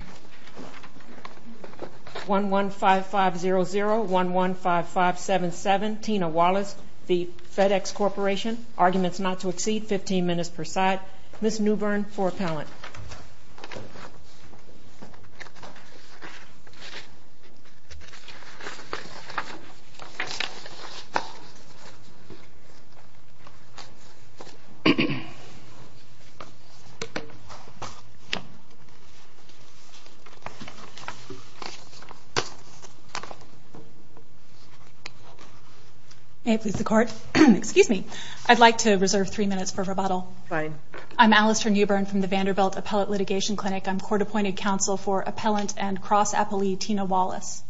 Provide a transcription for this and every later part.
arguments not to exceed 15 minutes per side. Ms. Newbern for appellant. May it please the court. Excuse me. I'd like to reserve three minutes for rebuttal. Fine. I'm Alistair Newbern from the Vanderbilt Appellate Litigation Clinic. I'm court appointed counsel for appellant and cross-appellee Tina Wallace.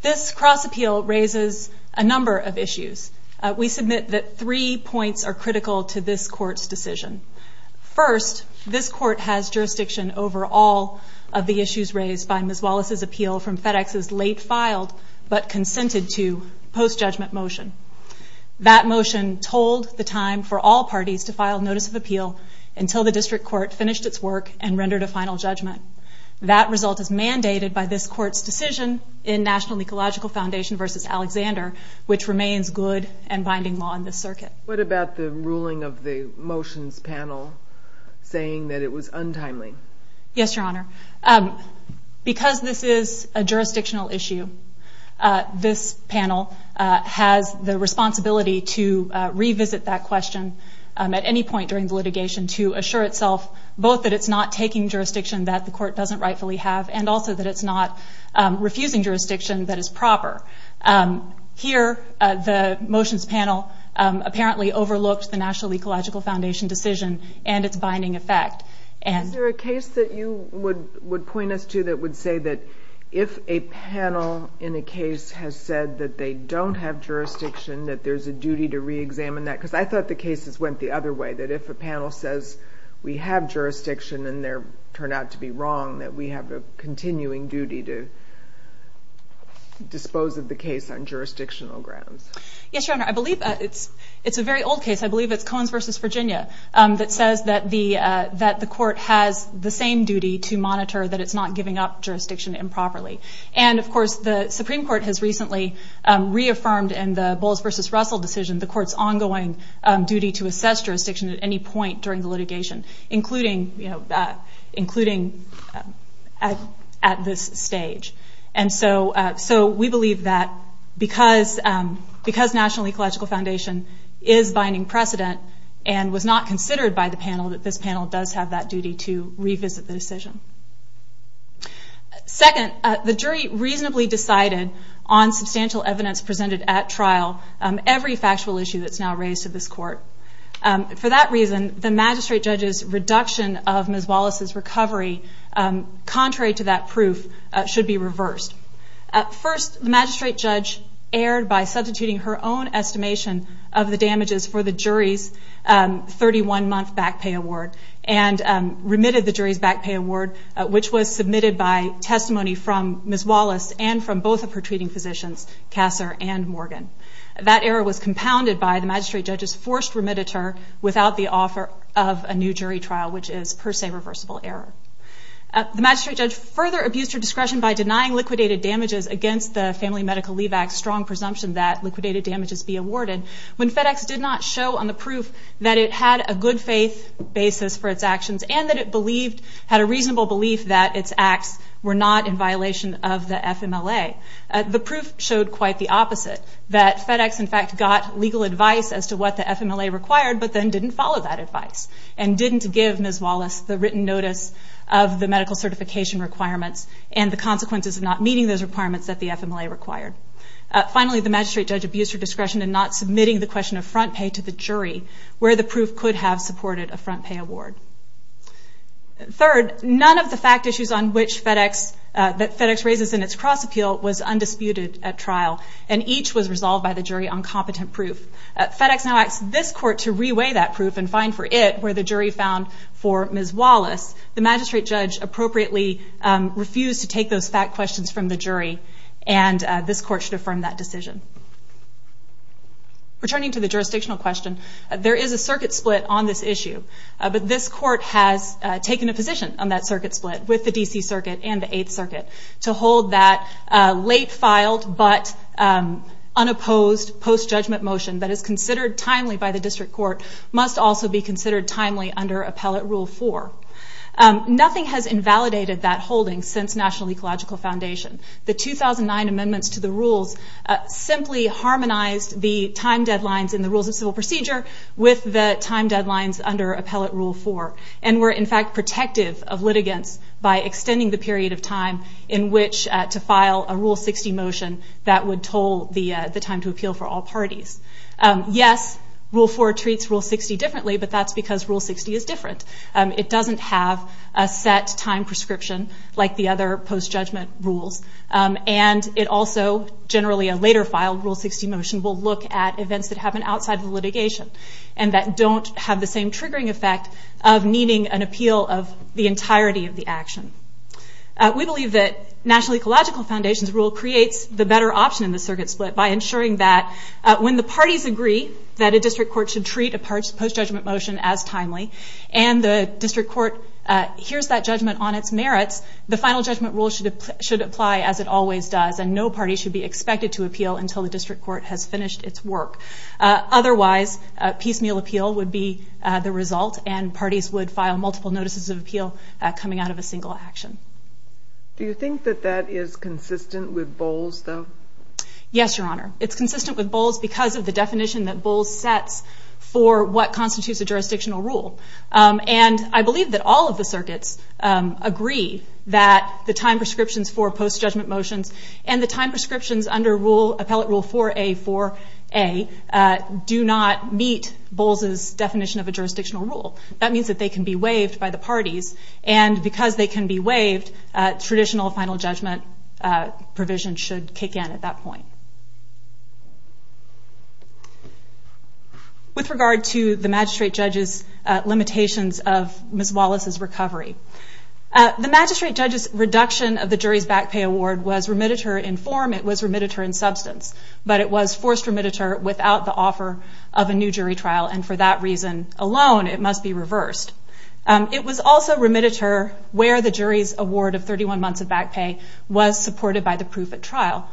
This cross-appeal raises a number of issues. We submit that three points are critical to this court's decision. First, this court has of the issues raised by Ms. Wallace's appeal from FedEx's late-filed but consented-to post-judgment motion. That motion told the time for all parties to file notice of appeal until the district court finished its work and rendered a final judgment. That result is mandated by this court's decision in National Ecological Foundation v. Alexander, which remains good and binding law in this circuit. What about the ruling of the motions panel saying that it was untimely? Yes, Your Honor. Because this is a jurisdictional issue, this panel has the responsibility to revisit that question at any point during the litigation to assure itself both that it's not taking jurisdiction that the court doesn't rightfully have and also that it's not refusing jurisdiction that is proper. Here, the motions panel apparently overlooked the National Ecological Foundation decision and its binding effect. Is there a case that you would point us to that would say that if a panel in a case has said that they don't have jurisdiction, that there's a duty to re-examine that? Because I thought the cases went the other way, that if a panel says we have jurisdiction and there turned out to be wrong, that we have a continuing duty to dispose of the case on jurisdictional grounds. Yes, Your Honor. I believe it's a very old case. I believe it's Coens v. Virginia that says that the court has the same duty to monitor that it's not giving up jurisdiction improperly. Of course, the Supreme Court has recently reaffirmed in the Bowles v. Russell decision the court's ongoing duty to assess jurisdiction at any point during the litigation, including at this stage. We believe that because National Ecological Foundation is binding precedent and was not considered by the panel, that this panel does have that duty to revisit the decision. Second, the jury reasonably decided on substantial evidence presented at trial, every factual issue that's now raised to this court. For that reason, the magistrate judge's reduction of Ms. Wallace's recovery, contrary to that proof, should be reversed. First, the magistrate judge erred by substituting her own estimation of the damages for the jury's 31-month back pay award and remitted the jury's back pay award, which was submitted by testimony from Ms. Wallace and from both of her treating physicians, Kasser and Morgan. That error was compounded by the magistrate judge's forced remittiture without the offer of a new jury trial, which is per se reversible error. The magistrate judge further abused her discretion by denying liquidated damages against the Family Medical Leave Act's strong presumption that liquidated damages be awarded when FedEx did not show on the proof that it had a good faith basis for its actions and that it had a reasonable belief that its acts were not in violation of the FMLA. The proof showed quite the opposite, that FedEx in fact got legal advice as to what the FMLA required but then didn't follow that advice and didn't give Ms. Wallace the written notice of the medical certification requirements and the consequences of not meeting those requirements that the FMLA required. Finally, the magistrate judge abused her discretion in not submitting the question of front pay to the jury where the proof could have supported a front pay award. Third, none of the fact issues that FedEx raises in its cross appeal was undisputed at trial and each was resolved by the jury on competent proof. FedEx now asks this court to re-weigh that proof and find for it where the jury found for Ms. Wallace. The magistrate judge appropriately refused to take those fact questions from the jury and this court should affirm that decision. Returning to the jurisdictional question, there is a circuit split on this issue, but this court has taken a position on that circuit split with the unopposed post-judgment motion that is considered timely by the district court must also be considered timely under Appellate Rule 4. Nothing has invalidated that holding since National Ecological Foundation. The 2009 amendments to the rules simply harmonized the time deadlines in the Rules of Civil Procedure with the time deadlines under Appellate Rule 4 and were in fact protective of litigants by extending the period of time in which to file a Rule 60 motion that would toll the time to appeal for all parties. Yes, Rule 4 treats Rule 60 differently, but that's because Rule 60 is different. It doesn't have a set time prescription like the other post-judgment rules and it also generally a later filed Rule 60 motion will look at events that happen outside the litigation and that don't have the same triggering effect of needing an appeal of the entirety of the action. We believe that National Ecological Foundation's rule creates the better option in the circuit split by ensuring that when the parties agree that a district court should treat a post-judgment motion as timely and the district court hears that judgment on its merits, the final judgment rule should apply as it always does and no party should be expected to appeal until the district court has finished its work. Otherwise, piecemeal appeal would be the result and parties would have multiple notices of appeal coming out of a single action. Do you think that that is consistent with Bowles though? Yes, Your Honor. It's consistent with Bowles because of the definition that Bowles sets for what constitutes a jurisdictional rule and I believe that all of the circuits agree that the time prescriptions for post-judgment motions and the time prescriptions under Appellate Rule 4A4A do not meet Bowles' definition of a jurisdictional rule. That means that they can be waived by the parties and because they can be waived, traditional final judgment provisions should kick in at that point. With regard to the magistrate judge's limitations of Ms. Wallace's recovery, the magistrate judge's reduction of the jury's back pay award was remitted her in form, it was remitted her in substance, but it was forced remitted her without the offer of a new jury trial and for that reason alone it must be reversed. It was also remitted her where the jury's award of 31 months of back pay was supported by the proof at trial.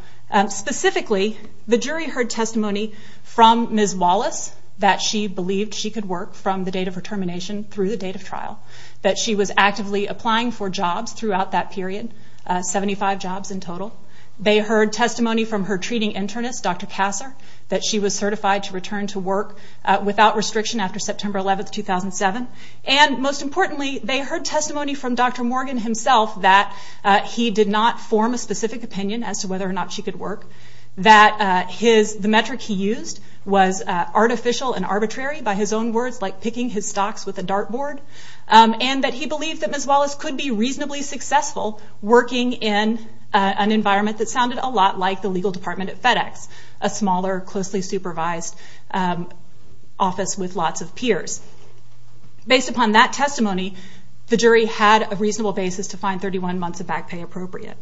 Specifically, the jury heard testimony from Ms. Wallace that she believed she could work from the date of her termination through the date of trial, that she was actively applying for jobs throughout that period, 75 jobs in total. They heard testimony from her treating internist, Dr. Kasser, that she was certified to return to work without restriction after September 11, 2007. And most importantly, they heard testimony from Dr. Morgan himself that he did not form a specific opinion as to whether or not she could work, that the metric he used was artificial and arbitrary by his own words, like picking his stocks with a dart board, and that he believed that Ms. Wallace could be reasonably successful working in an environment that sounded a lot the legal department at FedEx, a smaller, closely supervised office with lots of peers. Based upon that testimony, the jury had a reasonable basis to find 31 months of back pay appropriate.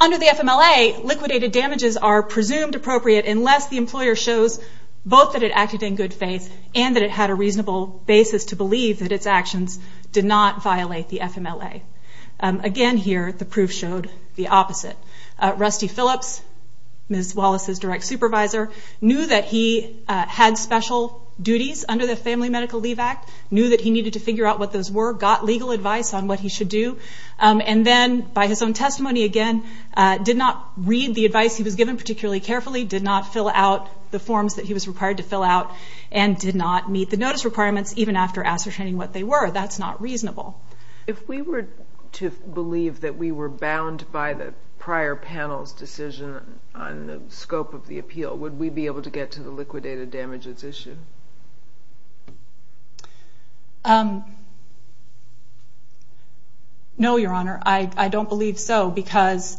Under the FMLA, liquidated damages are presumed appropriate unless the employer shows both that it acted in good faith and that it had a reasonable basis to Rusty Phillips, Ms. Wallace's direct supervisor, knew that he had special duties under the Family Medical Leave Act, knew that he needed to figure out what those were, got legal advice on what he should do, and then by his own testimony, again, did not read the advice he was given particularly carefully, did not fill out the forms that he was required to fill out, and did not meet the notice requirements even after ascertaining what they were. That's not reasonable. If we were to believe that we were bound by the prior panel's decision on the scope of the appeal, would we be able to get to the liquidated damages issue? No, Your Honor. I don't believe so because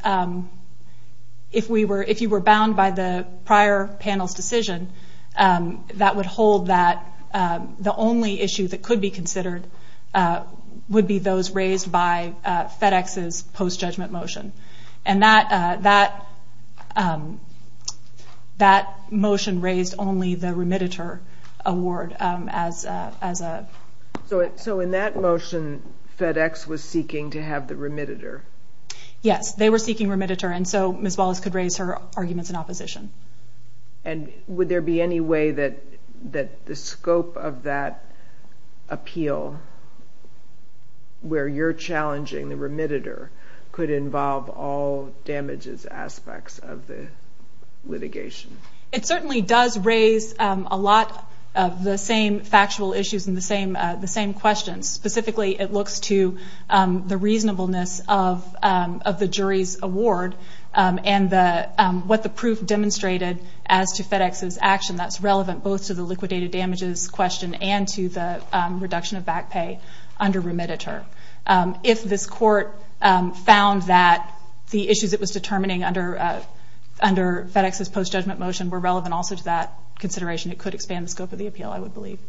if you were bound by the prior panel's decision, that would hold that the only issue that could be considered would be those raised by FedEx's post-judgment motion, and that motion raised only the remittitor award as a... So in that motion, FedEx was seeking to have the remittitor? Yes, they were seeking remittitor, and so Ms. Wallace could raise her arguments in opposition. And would there be any way that the scope of that appeal, where you're challenging the remittitor, could involve all damages aspects of the litigation? It certainly does raise a lot of the same factual issues and the same questions. Specifically, it looks to the reasonableness of the jury's award and what the proof demonstrates in the case. As to FedEx's action, that's relevant both to the liquidated damages question and to the reduction of back pay under remittitor. If this court found that the issues it was determining under FedEx's post-judgment motion were relevant also to that consideration, it could expand the scope of the appeal, I would believe.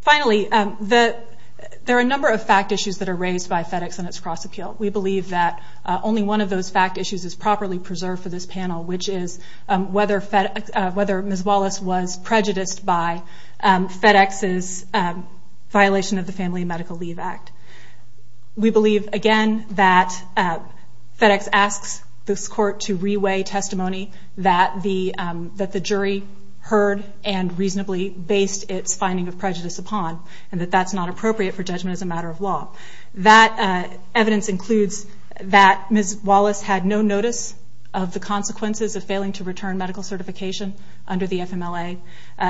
Finally, there are a number of fact issues that are raised by FedEx in its cross-appeal. We believe that only one of those fact issues is properly preserved for this panel, which is whether Ms. Wallace was prejudiced by FedEx's violation of the Family and Medical Leave Act. We believe, again, that FedEx asks this court to re-weigh testimony that the jury heard and reasonably based its finding of prejudice upon, and that that's not appropriate for judgment as a matter of law. That evidence includes that Ms. Wallace had no notice of the consequences of failing to return medical certification under the FMLA.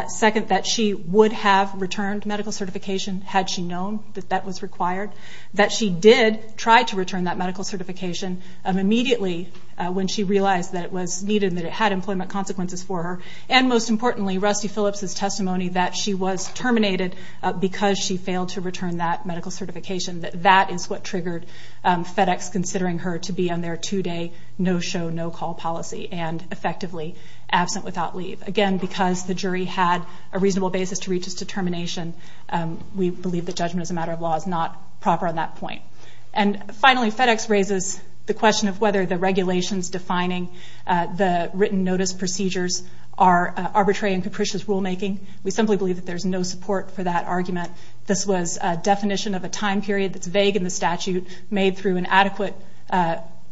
Second, that she would have returned medical certification had she known that that was required. That she did try to return that medical certification immediately when she realized that it was needed and that it had employment consequences for her. And most importantly, Rusty Phillips' testimony that she was terminated because she failed to return that medical certification, that that is what triggered FedEx considering her to be on their two-day, no-show, no-call policy and effectively absent without leave. Again, because the jury had a reasonable basis to reach its determination, we believe that judgment as a matter of law is not proper on that point. And finally, FedEx raises the question of whether the regulations defining the written notice procedures are arbitrary and capricious rulemaking. We simply believe that there's no support for that argument. This was a definition of a time period that's vague in the statute, made through an adequate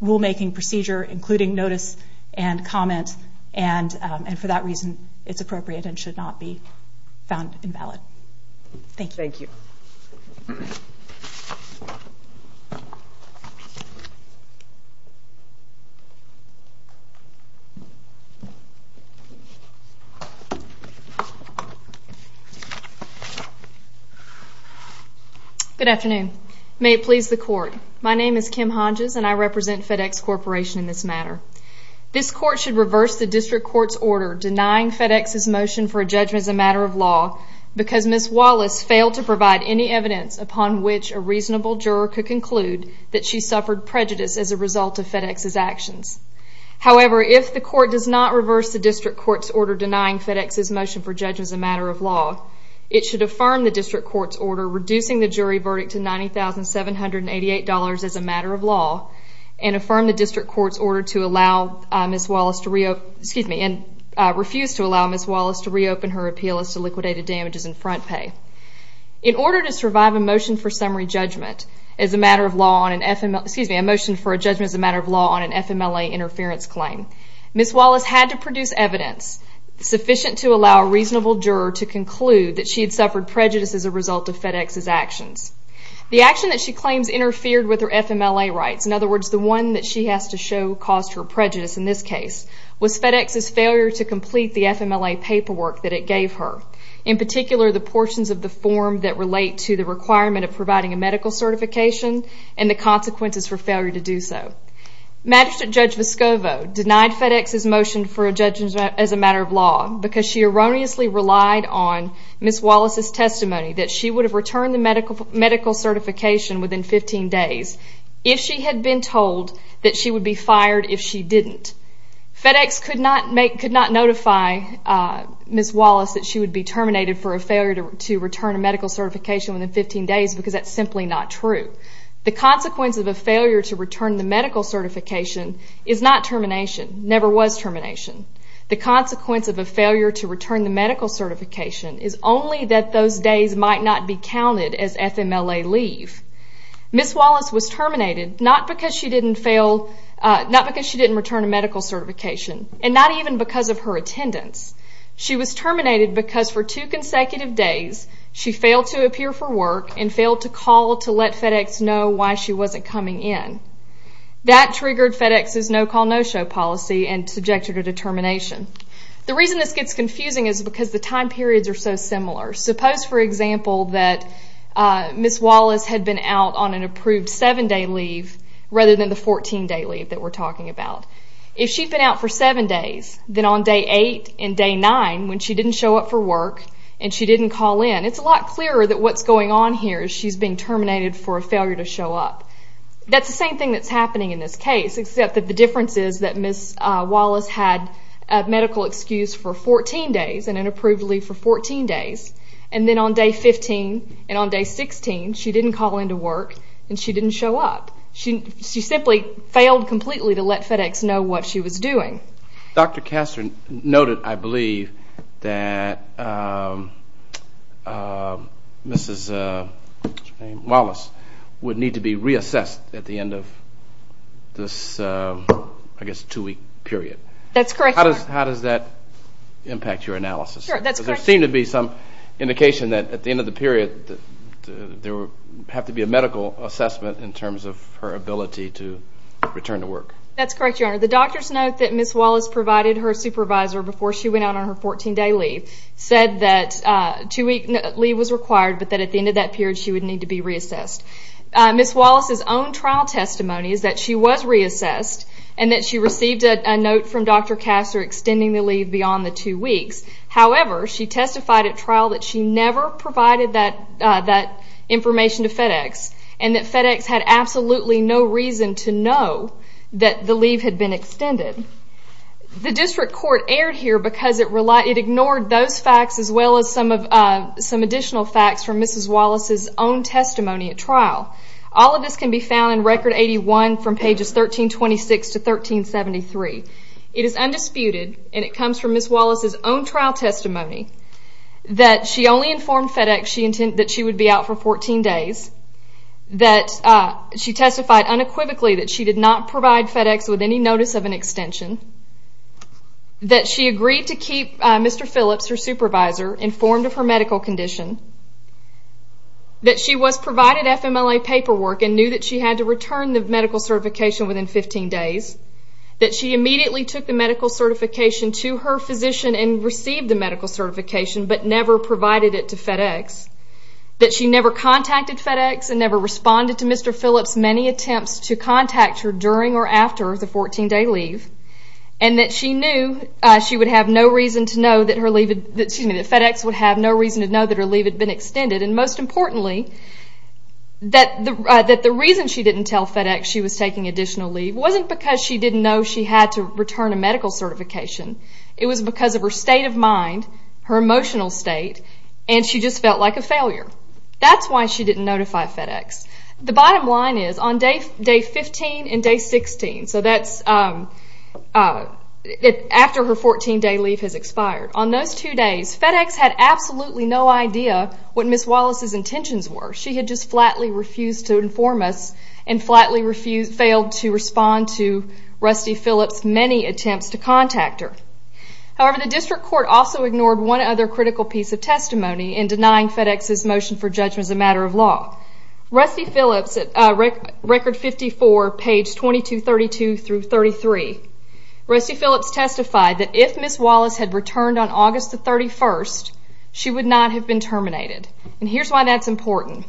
rulemaking procedure, including notice and comment, and for that reason, it's appropriate and should not be found invalid. Thank you. Thank you. Good afternoon. May it please the Court. My name is Kim Honges and I represent FedEx Corporation in this matter. This Court should reverse the District Court's order denying FedEx's motion for a judgment as a matter of law because Ms. Wallace failed to provide any evidence upon which a reasonable juror could conclude that she suffered prejudice as a result of FedEx's actions. However, if the Court does not reverse the District Court's order denying FedEx's motion for judgment as a matter of law, it should affirm the District Court's order reducing the jury verdict to $90,788 as a matter of law and affirm the District Court's order to allow Ms. Wallace to reopen, excuse me, and refuse to allow Ms. Wallace to reopen her appeal as to liquidated damages and front pay. In order to survive a motion for summary judgment as a matter of law on an FMLA, excuse me, a motion for a judgment as a matter of law on an FMLA interference claim, Ms. Wallace had to produce evidence sufficient to allow a reasonable juror to conclude that she had suffered prejudice as a result of FedEx's actions. The action that she claims interfered with her FMLA rights, in other words, the one that she has to show caused her prejudice in this case, was FedEx's failure to complete the FMLA paperwork that it gave her. In particular, the portions of the form that relate to the requirement of providing a medical certification and the consequences for failure to do so. Magistrate Judge Vescovo denied FedEx's motion for a judgment as a matter of law because she erroneously relied on Ms. Wallace's testimony that she would have returned the medical certification within 15 days if she had been told that she would be fired if she didn't. FedEx could not notify Ms. Wallace that she would be terminated for a failure to return a medical certification within 15 days because that's simply not true. The consequence of a failure to return the medical certification is not termination, never was termination. The consequence of a failure to return the medical certification is only that those days might not be counted as FMLA leave. Ms. Wallace was terminated not because she didn't return a medical certification and not even because of her attendance. She was terminated because for two consecutive days she failed to appear for work and failed to call to let FedEx know why she wasn't coming in. That triggered FedEx's no-call, no-show policy and subjected her to termination. The reason this gets confusing is because the time periods are so similar. Suppose, for example, that Ms. Wallace had been out on an approved seven-day leave rather than the 14-day leave that we're talking about. If she'd been out for seven days, then on day eight and day nine when she didn't show up for work and she didn't call in, it's a lot clearer that what's going on here is she's being terminated for a failure to show up. That's the same thing that's happening in this case except that the difference is that Ms. Wallace had a medical excuse for 14 days and an approved leave for 14 days and then on day 15 and on day 16 she didn't call in to work and she didn't show up. She simply failed completely to let FedEx know what she was doing. Dr. Kastner noted, I believe, that Ms. Wallace would need to be reassessed at the end of this, I guess, two-week period. That's correct, sir. Sure, that's correct. There seemed to be some indication that at the end of the period there would have to be a medical assessment in terms of her ability to return to work. That's correct, your honor. The doctor's note that Ms. Wallace provided her supervisor before she went out on her 14-day leave said that two-week leave was required but that at the end of that period she would need to be reassessed. Ms. Wallace's own trial testimony is that she was reassessed and that she received a note from Dr. Kastner extending the leave beyond the two weeks. However, she testified at trial that she never provided that information to FedEx and that FedEx had absolutely no reason to know that the leave had been extended. The district court erred here because it ignored those facts as well as some additional facts from Ms. Wallace's own testimony at trial. All of this can be found in Record 81 from Ms. Wallace's own trial testimony that she only informed FedEx that she would be out for 14 days, that she testified unequivocally that she did not provide FedEx with any notice of an extension, that she agreed to keep Mr. Phillips, her supervisor, informed of her medical condition, that she was provided FMLA paperwork and knew that she had to return the medical certification within 15 days, that she immediately took the medical certification to her physician and received the medical certification but never provided it to FedEx, that she never contacted FedEx and never responded to Mr. Phillips' many attempts to contact her during or after the 14-day leave, and that she knew she would have no reason to know that FedEx would have no reason to know that her leave had been extended, and most importantly, that the reason she didn't tell FedEx she was taking additional leave wasn't because she didn't know she had to return a medical certification. It was because of her state of mind, her emotional state, and she just felt like a failure. That's why she didn't notify FedEx. The bottom line is, on day 15 and day 16, so that's after her 14-day leave has expired, on those two days, FedEx had absolutely no idea what Ms. Wallace's intentions were. She had just flatly refused to inform us and flatly failed to respond to Rusty Phillips' many attempts to contact her. However, the district court also ignored one other critical piece of testimony in denying FedEx's motion for judgment as a matter of law. Rusty Phillips, at record 54, page 2232 through 33, Rusty Phillips testified that if Ms. Wallace had returned on August the 31st, she would not have been terminated. Here's why that's important.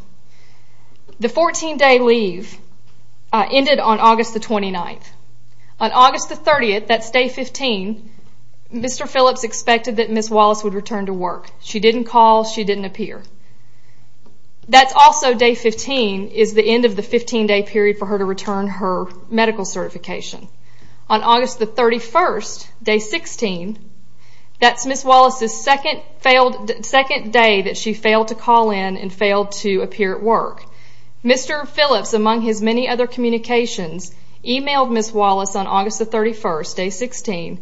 The 14-day leave ended on August the 29th. On August the 30th, that's day 15, Mr. Phillips expected that Ms. Wallace would return to work. She didn't call. She didn't appear. That's also day 15, is the end of the 15-day period for her to return her medical certification. On August the 31st, day 16, that's Ms. Wallace's second day that she failed to call in and failed to appear at work. Mr. Phillips, among his many other communications, emailed Ms. Wallace on August the 31st, day 16,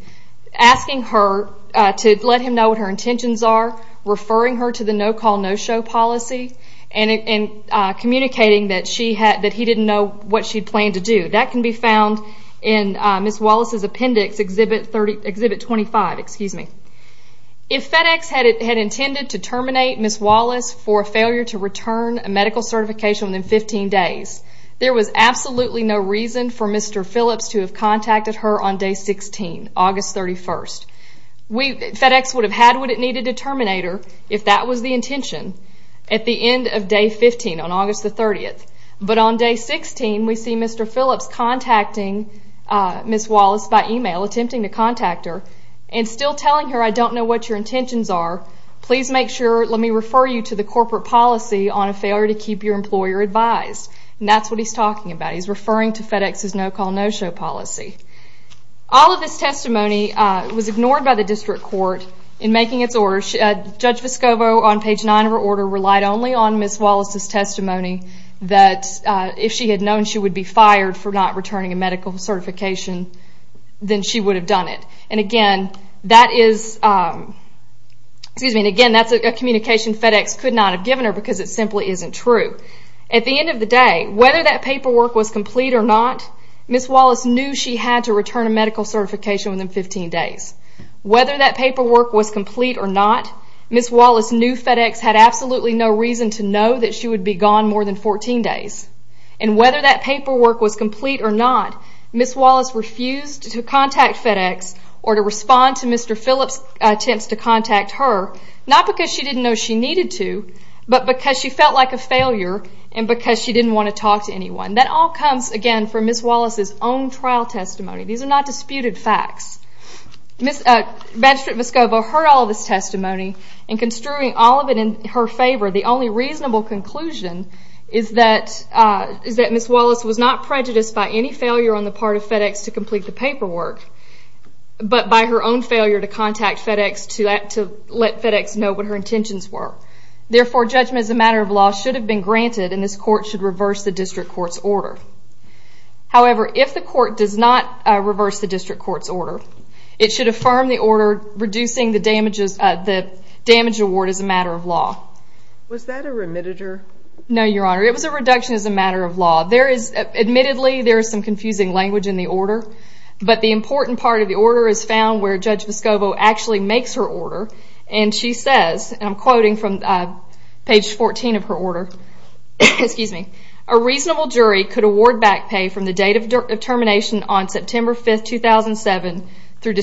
asking her to let him know what her intentions are, referring her to the no-call, no-show policy, and communicating that he didn't know what she planned to do. That can be found in Ms. Wallace's appendix, Exhibit 25. If FedEx had intended to terminate Ms. Wallace for a failure to return a medical certification within 15 days, there was absolutely no reason for Mr. Phillips to have contacted her on day 16, August 31st. FedEx would have had what it needed to terminate her, if that was the intention, at the end of day 15, on August the 30th. But on day 16, we see Mr. Phillips attempting to contact her and still telling her, I don't know what your intentions are. Please make sure, let me refer you to the corporate policy on a failure to keep your employer advised. And that's what he's talking about. He's referring to FedEx's no-call, no-show policy. All of this testimony was ignored by the district court in making its orders. Judge Vescovo, on page 9 of her order, relied only on Ms. Wallace's testimony that if she had known she would be fired for not returning a medical certification, then she would have done it. And again, that's a communication FedEx could not have given her because it simply isn't true. At the end of the day, whether that paperwork was complete or not, Ms. Wallace knew she had to return a medical certification within 15 days. Whether that paperwork was complete or not, Ms. Wallace knew FedEx had absolutely no reason to know that she would be gone more than 14 days. And whether that paperwork was complete or not, Ms. Wallace refused to contact FedEx or to respond to Mr. Phillips' attempts to contact her, not because she didn't know she needed to, but because she felt like a failure and because she didn't want to talk to anyone. That all comes, again, from Ms. Wallace's own trial testimony. These are not disputed facts. Magistrate Vescovo heard all of this testimony and construing all of it in her favor, the only reasonable conclusion is that Ms. Wallace was not prejudiced by any failure on the part of FedEx to complete the paperwork, but by her own failure to contact FedEx to let FedEx know what her intentions were. Therefore, judgment as a matter of law should have been granted and this court should reverse the district court's order. However, if the court does not reverse the district court's order, it should affirm the order reducing the damage award as a matter of law. Was that a remitter? No, Your Honor. It was a reduction as a matter of law. There is, admittedly, there is some confusing language in the order, but the important part of the order is found where Judge Vescovo actually makes her order and she says, and I'm quoting from page 14 of her order, a reasonable jury could award back pay from the date of termination on September 5, 2007, through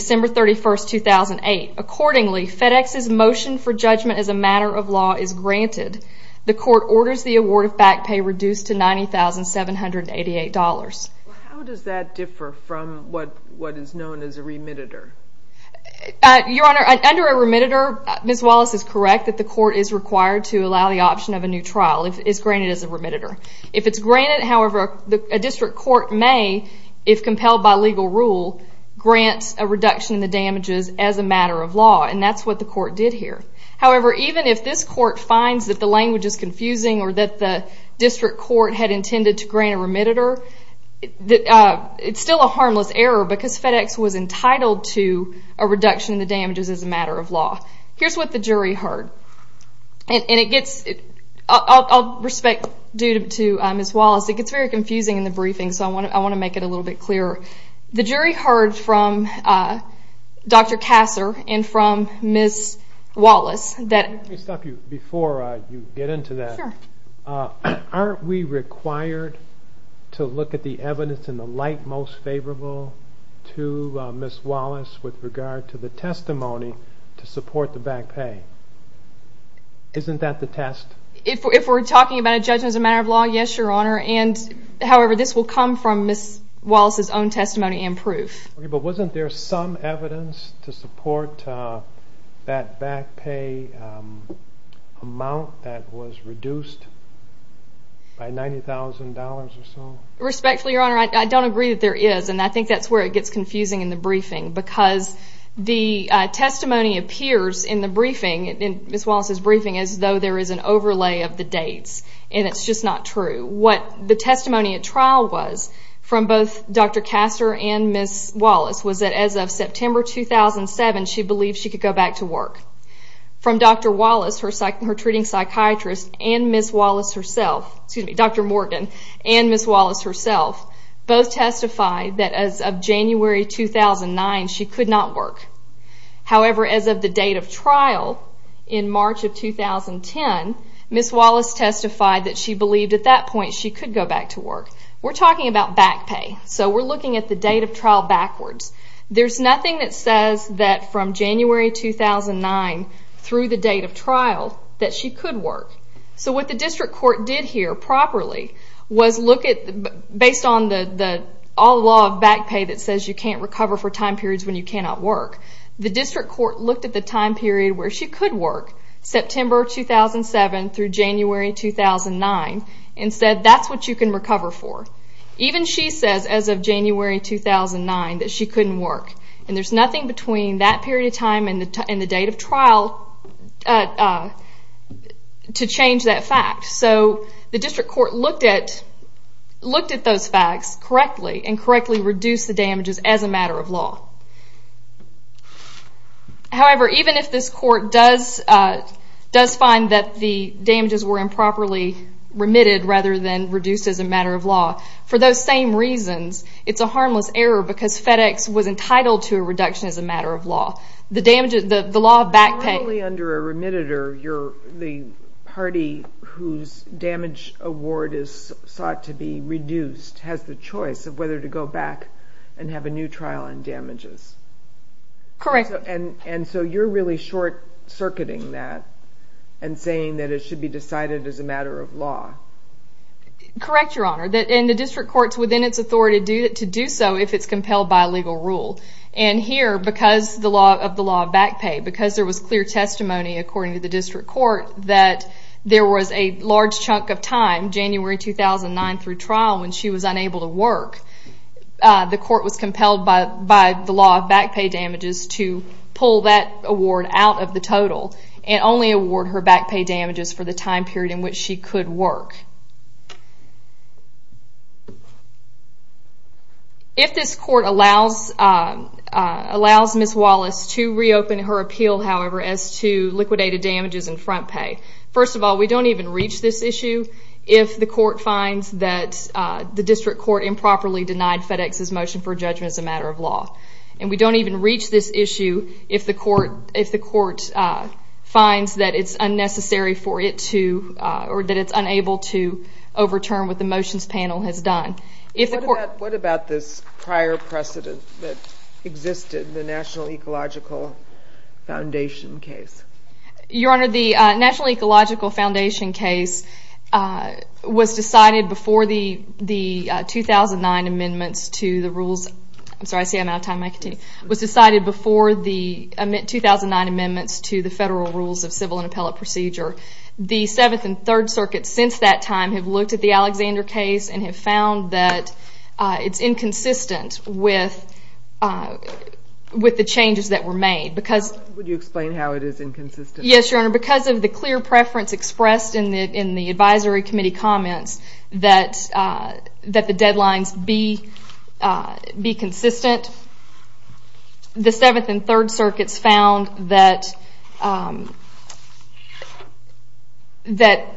law is granted, the court orders the award of back pay reduced to $90,788. How does that differ from what is known as a remitter? Your Honor, under a remitter, Ms. Wallace is correct that the court is required to allow the option of a new trial if it's granted as a remitter. If it's granted, however, a district court may, if compelled by legal rule, grant a reduction in the damages as a matter of law, and that's what the court did here. However, even if this court finds that the language is confusing or that the district court had intended to grant a remitter, it's still a harmless error because FedEx was entitled to a reduction in the damages as a matter of law. Here's what the jury heard, and it gets, I'll respect due to Ms. Wallace, it gets very confusing in the briefing, so I want to make it a little bit clearer. The jury heard from Dr. Kasser and from Ms. Wallace that... Let me stop you before you get into that. Sure. Aren't we required to look at the evidence in the light most favorable to Ms. Wallace with regard to the testimony to support the back pay? Isn't that the test? If we're talking about a judgment as a matter of law, yes, Your Honor, and however, this will come from Ms. Wallace's own testimony and proof. Okay, but wasn't there some evidence to support that back pay amount that was reduced by $90,000 or so? Respectfully, Your Honor, I don't agree that there is, and I think that's where it gets confusing in the briefing because the testimony appears in the briefing, in Ms. Wallace's relay of the dates, and it's just not true. What the testimony at trial was from both Dr. Kasser and Ms. Wallace was that as of September 2007, she believed she could go back to work. From Dr. Wallace, her treating psychiatrist, and Ms. Wallace herself, excuse me, Dr. Morgan, and Ms. Wallace herself, both testified that as of January 2009, she could not work. However, as of the date of trial in March of 2010, Ms. Wallace testified that she believed at that point she could go back to work. We're talking about back pay, so we're looking at the date of trial backwards. There's nothing that says that from January 2009 through the date of trial that she could work. So what the district court did here properly was look at, based on the law of back pay that says you can't recover for time periods when you cannot work, the district court looked at the time period where she could work, September 2007 through January 2009, and said that's what you can recover for. Even she says as of January 2009 that she couldn't work, and there's nothing between that period of time and the date of trial to change that fact. So the district court looked at those facts correctly, and correctly reduced the damages as a matter of law. However, even if this court does find that the damages were improperly remitted rather than reduced as a matter of law, for those same reasons, it's a harmless error because FedEx was entitled to a reduction as a matter of law. The law of back pay... Because damage award is sought to be reduced, has the choice of whether to go back and have a new trial on damages. And so you're really short-circuiting that and saying that it should be decided as a matter of law. Correct Your Honor, and the district court is within its authority to do so if it's compelled by legal rule. And here, because of the law of back pay, because there was clear testimony according to the district court that there was a large chunk of time, January 2009 through trial, when she was unable to work, the court was compelled by the law of back pay damages to pull that award out of the total and only award her back pay damages for the time period in which she could work. If this court allows Ms. Wallace to reopen her appeal, however, as to liquidated damages in front pay, first of all, we don't even reach this issue if the court finds that the district court improperly denied FedEx's motion for judgment as a matter of law. And we don't even reach this issue if the court finds that it's unnecessary for it to... or that it's unable to overturn what the motions panel has done. What about this prior precedent that existed in the National Ecological Foundation case? Your Honor, the National Ecological Foundation case was decided before the 2009 amendments to the rules... I'm sorry, I see I'm out of time. I'll continue. Was decided before the 2009 amendments to the federal rules of civil and appellate procedure. The Seventh and Third Circuits, since that time, have looked at the Alexander case and have found that it's inconsistent with the changes that were made. Would you explain how it is inconsistent? Yes, Your Honor. Because of the clear preference expressed in the advisory committee comments that the deadlines be consistent, the Seventh and Third Circuits found that the changes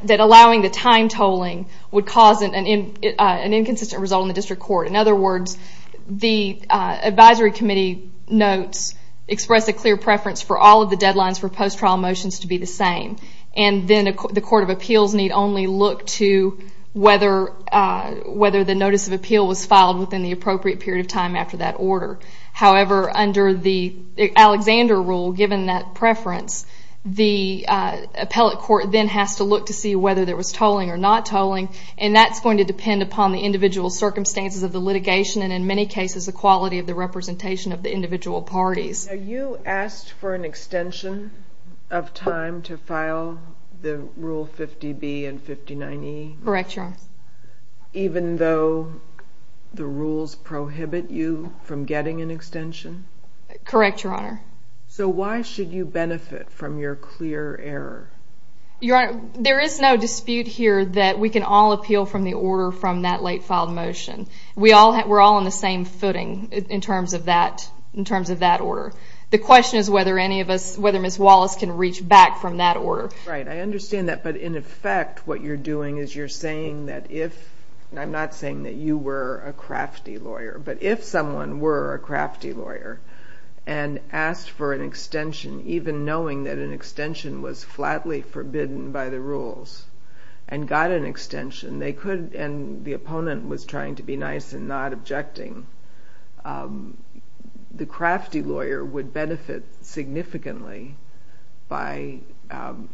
that allowing the time tolling would cause an inconsistent result in the district court. In other words, the advisory committee notes express a clear preference for all of the deadlines for post-trial motions to be the same. And then the court of appeals need only look to whether the notice of appeal was filed or not. However, under the Alexander rule, given that preference, the appellate court then has to look to see whether there was tolling or not tolling. And that's going to depend upon the individual circumstances of the litigation and, in many cases, the quality of the representation of the individual parties. Now, you asked for an extension of time to file the Rule 50B and 59E. Correct, Your Honor. Even though the rules prohibit you from getting an extension? Correct, Your Honor. So why should you benefit from your clear error? There is no dispute here that we can all appeal from the order from that late-filed motion. We're all on the same footing in terms of that order. The question is whether Ms. Wallace can reach back from that order. Right, I understand that. But in effect, what you're doing is you're saying that if—I'm not saying that you were a crafty lawyer—but if someone were a crafty lawyer and asked for an extension, even knowing that an extension was flatly forbidden by the rules, and got an extension, they could—and the opponent was trying to be nice and not objecting—the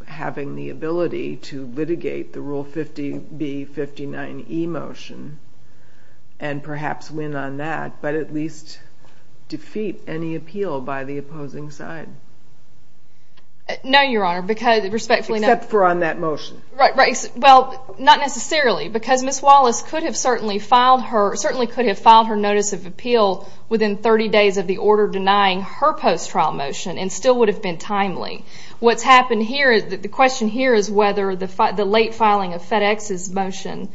having the ability to litigate the Rule 50B, 59E motion, and perhaps win on that, but at least defeat any appeal by the opposing side. No, Your Honor, because respectfully— Except for on that motion. Right, well, not necessarily, because Ms. Wallace could have certainly filed her notice of appeal within 30 days of the order denying her post-trial motion, and still would have been timely. The question here is whether the late filing of FedEx's motion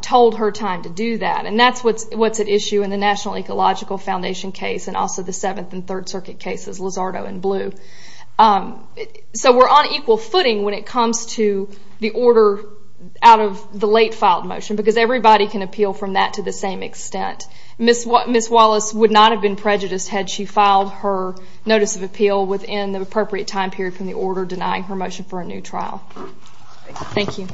told her time to do that, and that's what's at issue in the National Ecological Foundation case and also the Seventh and Third Circuit cases, Lizardo and Blue. So we're on equal footing when it comes to the order out of the late-filed motion, because everybody can appeal from that to the same extent. Ms. Wallace would not have been prejudiced had she filed her notice of appeal within the appropriate time period from the order denying her motion for a new trial. Thank you.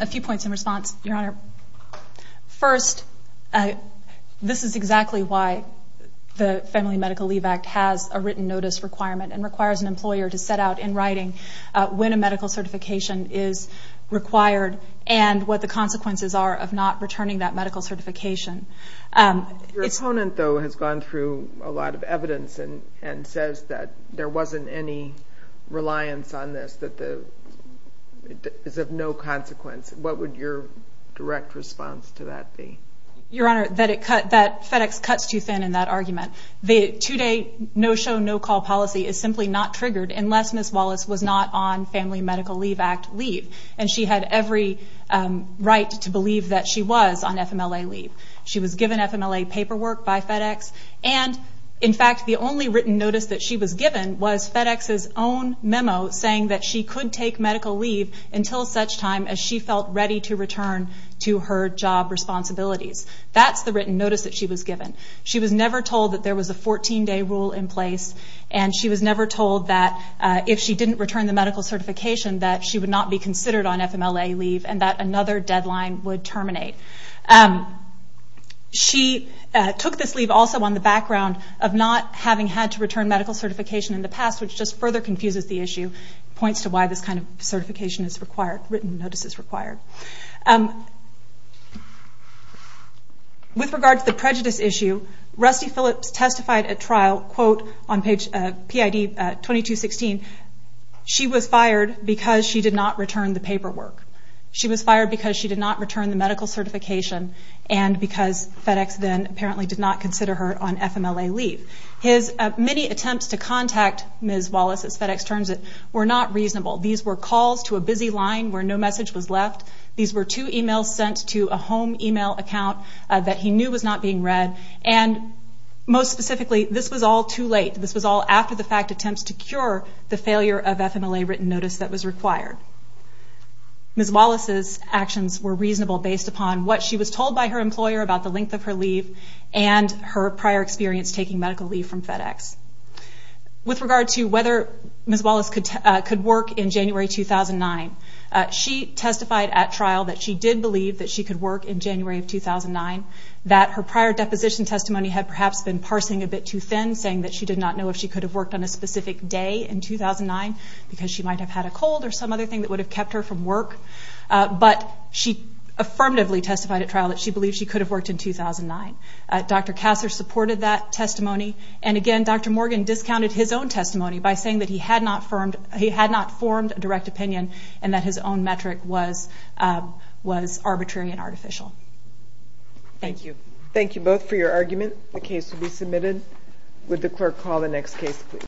A few points in response, Your Honor. First, this is exactly why the Family Medical Leave Act has a written notice requirement and requires an employer to set out in writing when a medical certification is required and what the consequences are of not returning that medical certification. Your opponent, though, has gone through a lot of evidence and says that there wasn't any reliance on this, that it is of no consequence. What would your direct response to that be? Your Honor, that FedEx cuts too thin in that argument. The two-day no-show, no-call policy is simply not triggered unless Ms. Wallace was not on Family Medical Leave Act leave, and she had every right to believe that she was on FMLA leave. She was given FMLA paperwork by FedEx, and in fact, the only written notice that she was given was FedEx's own memo saying that she could take medical leave until such time as she felt ready to return to her job responsibilities. That's the written notice that she was given. She was never told that there was a 14-day rule in place, and she was never told that if she didn't return the medical certification that she would not be considered on FMLA leave and that another deadline would terminate. She took this leave also on the background of not having had to return medical certification in the past, which just further confuses the issue, points to why this kind of certification is required, written notice is required. With regard to the prejudice issue, Rusty Phillips testified at trial, quote, on page PID 2216, she was fired because she did not return the paperwork. She was fired because she did not return the medical certification and because FedEx then apparently did not consider her on FMLA leave. His many attempts to contact Ms. Wallace, as FedEx turns it, were not reasonable. These were calls to a busy line where no message was left. These were two emails sent to a home email account that he knew was not being read. And most specifically, this was all too late. This was all after the fact attempts to cure the failure of FMLA written notice that was required. Ms. Wallace's actions were reasonable based upon what she was told by her employer about the length of her leave and her prior experience taking medical leave from FedEx. With regard to whether Ms. Wallace could work in January 2009, she testified at trial that she did believe that she could work in January of 2009, that her prior deposition testimony had perhaps been parsing a bit too thin, saying that she did not know if she could have worked on a specific day in 2009 because she might have had a cold or some other thing that would have kept her from work. But she affirmatively testified at trial that she believed she could have worked in 2009. Dr. Kasser supported that testimony. And again, Dr. Morgan discounted his own testimony by saying that he had not formed a direct opinion and that his own metric was arbitrary and artificial. Thank you. Thank you both for your argument. The case will be submitted. Would the clerk call the next case please?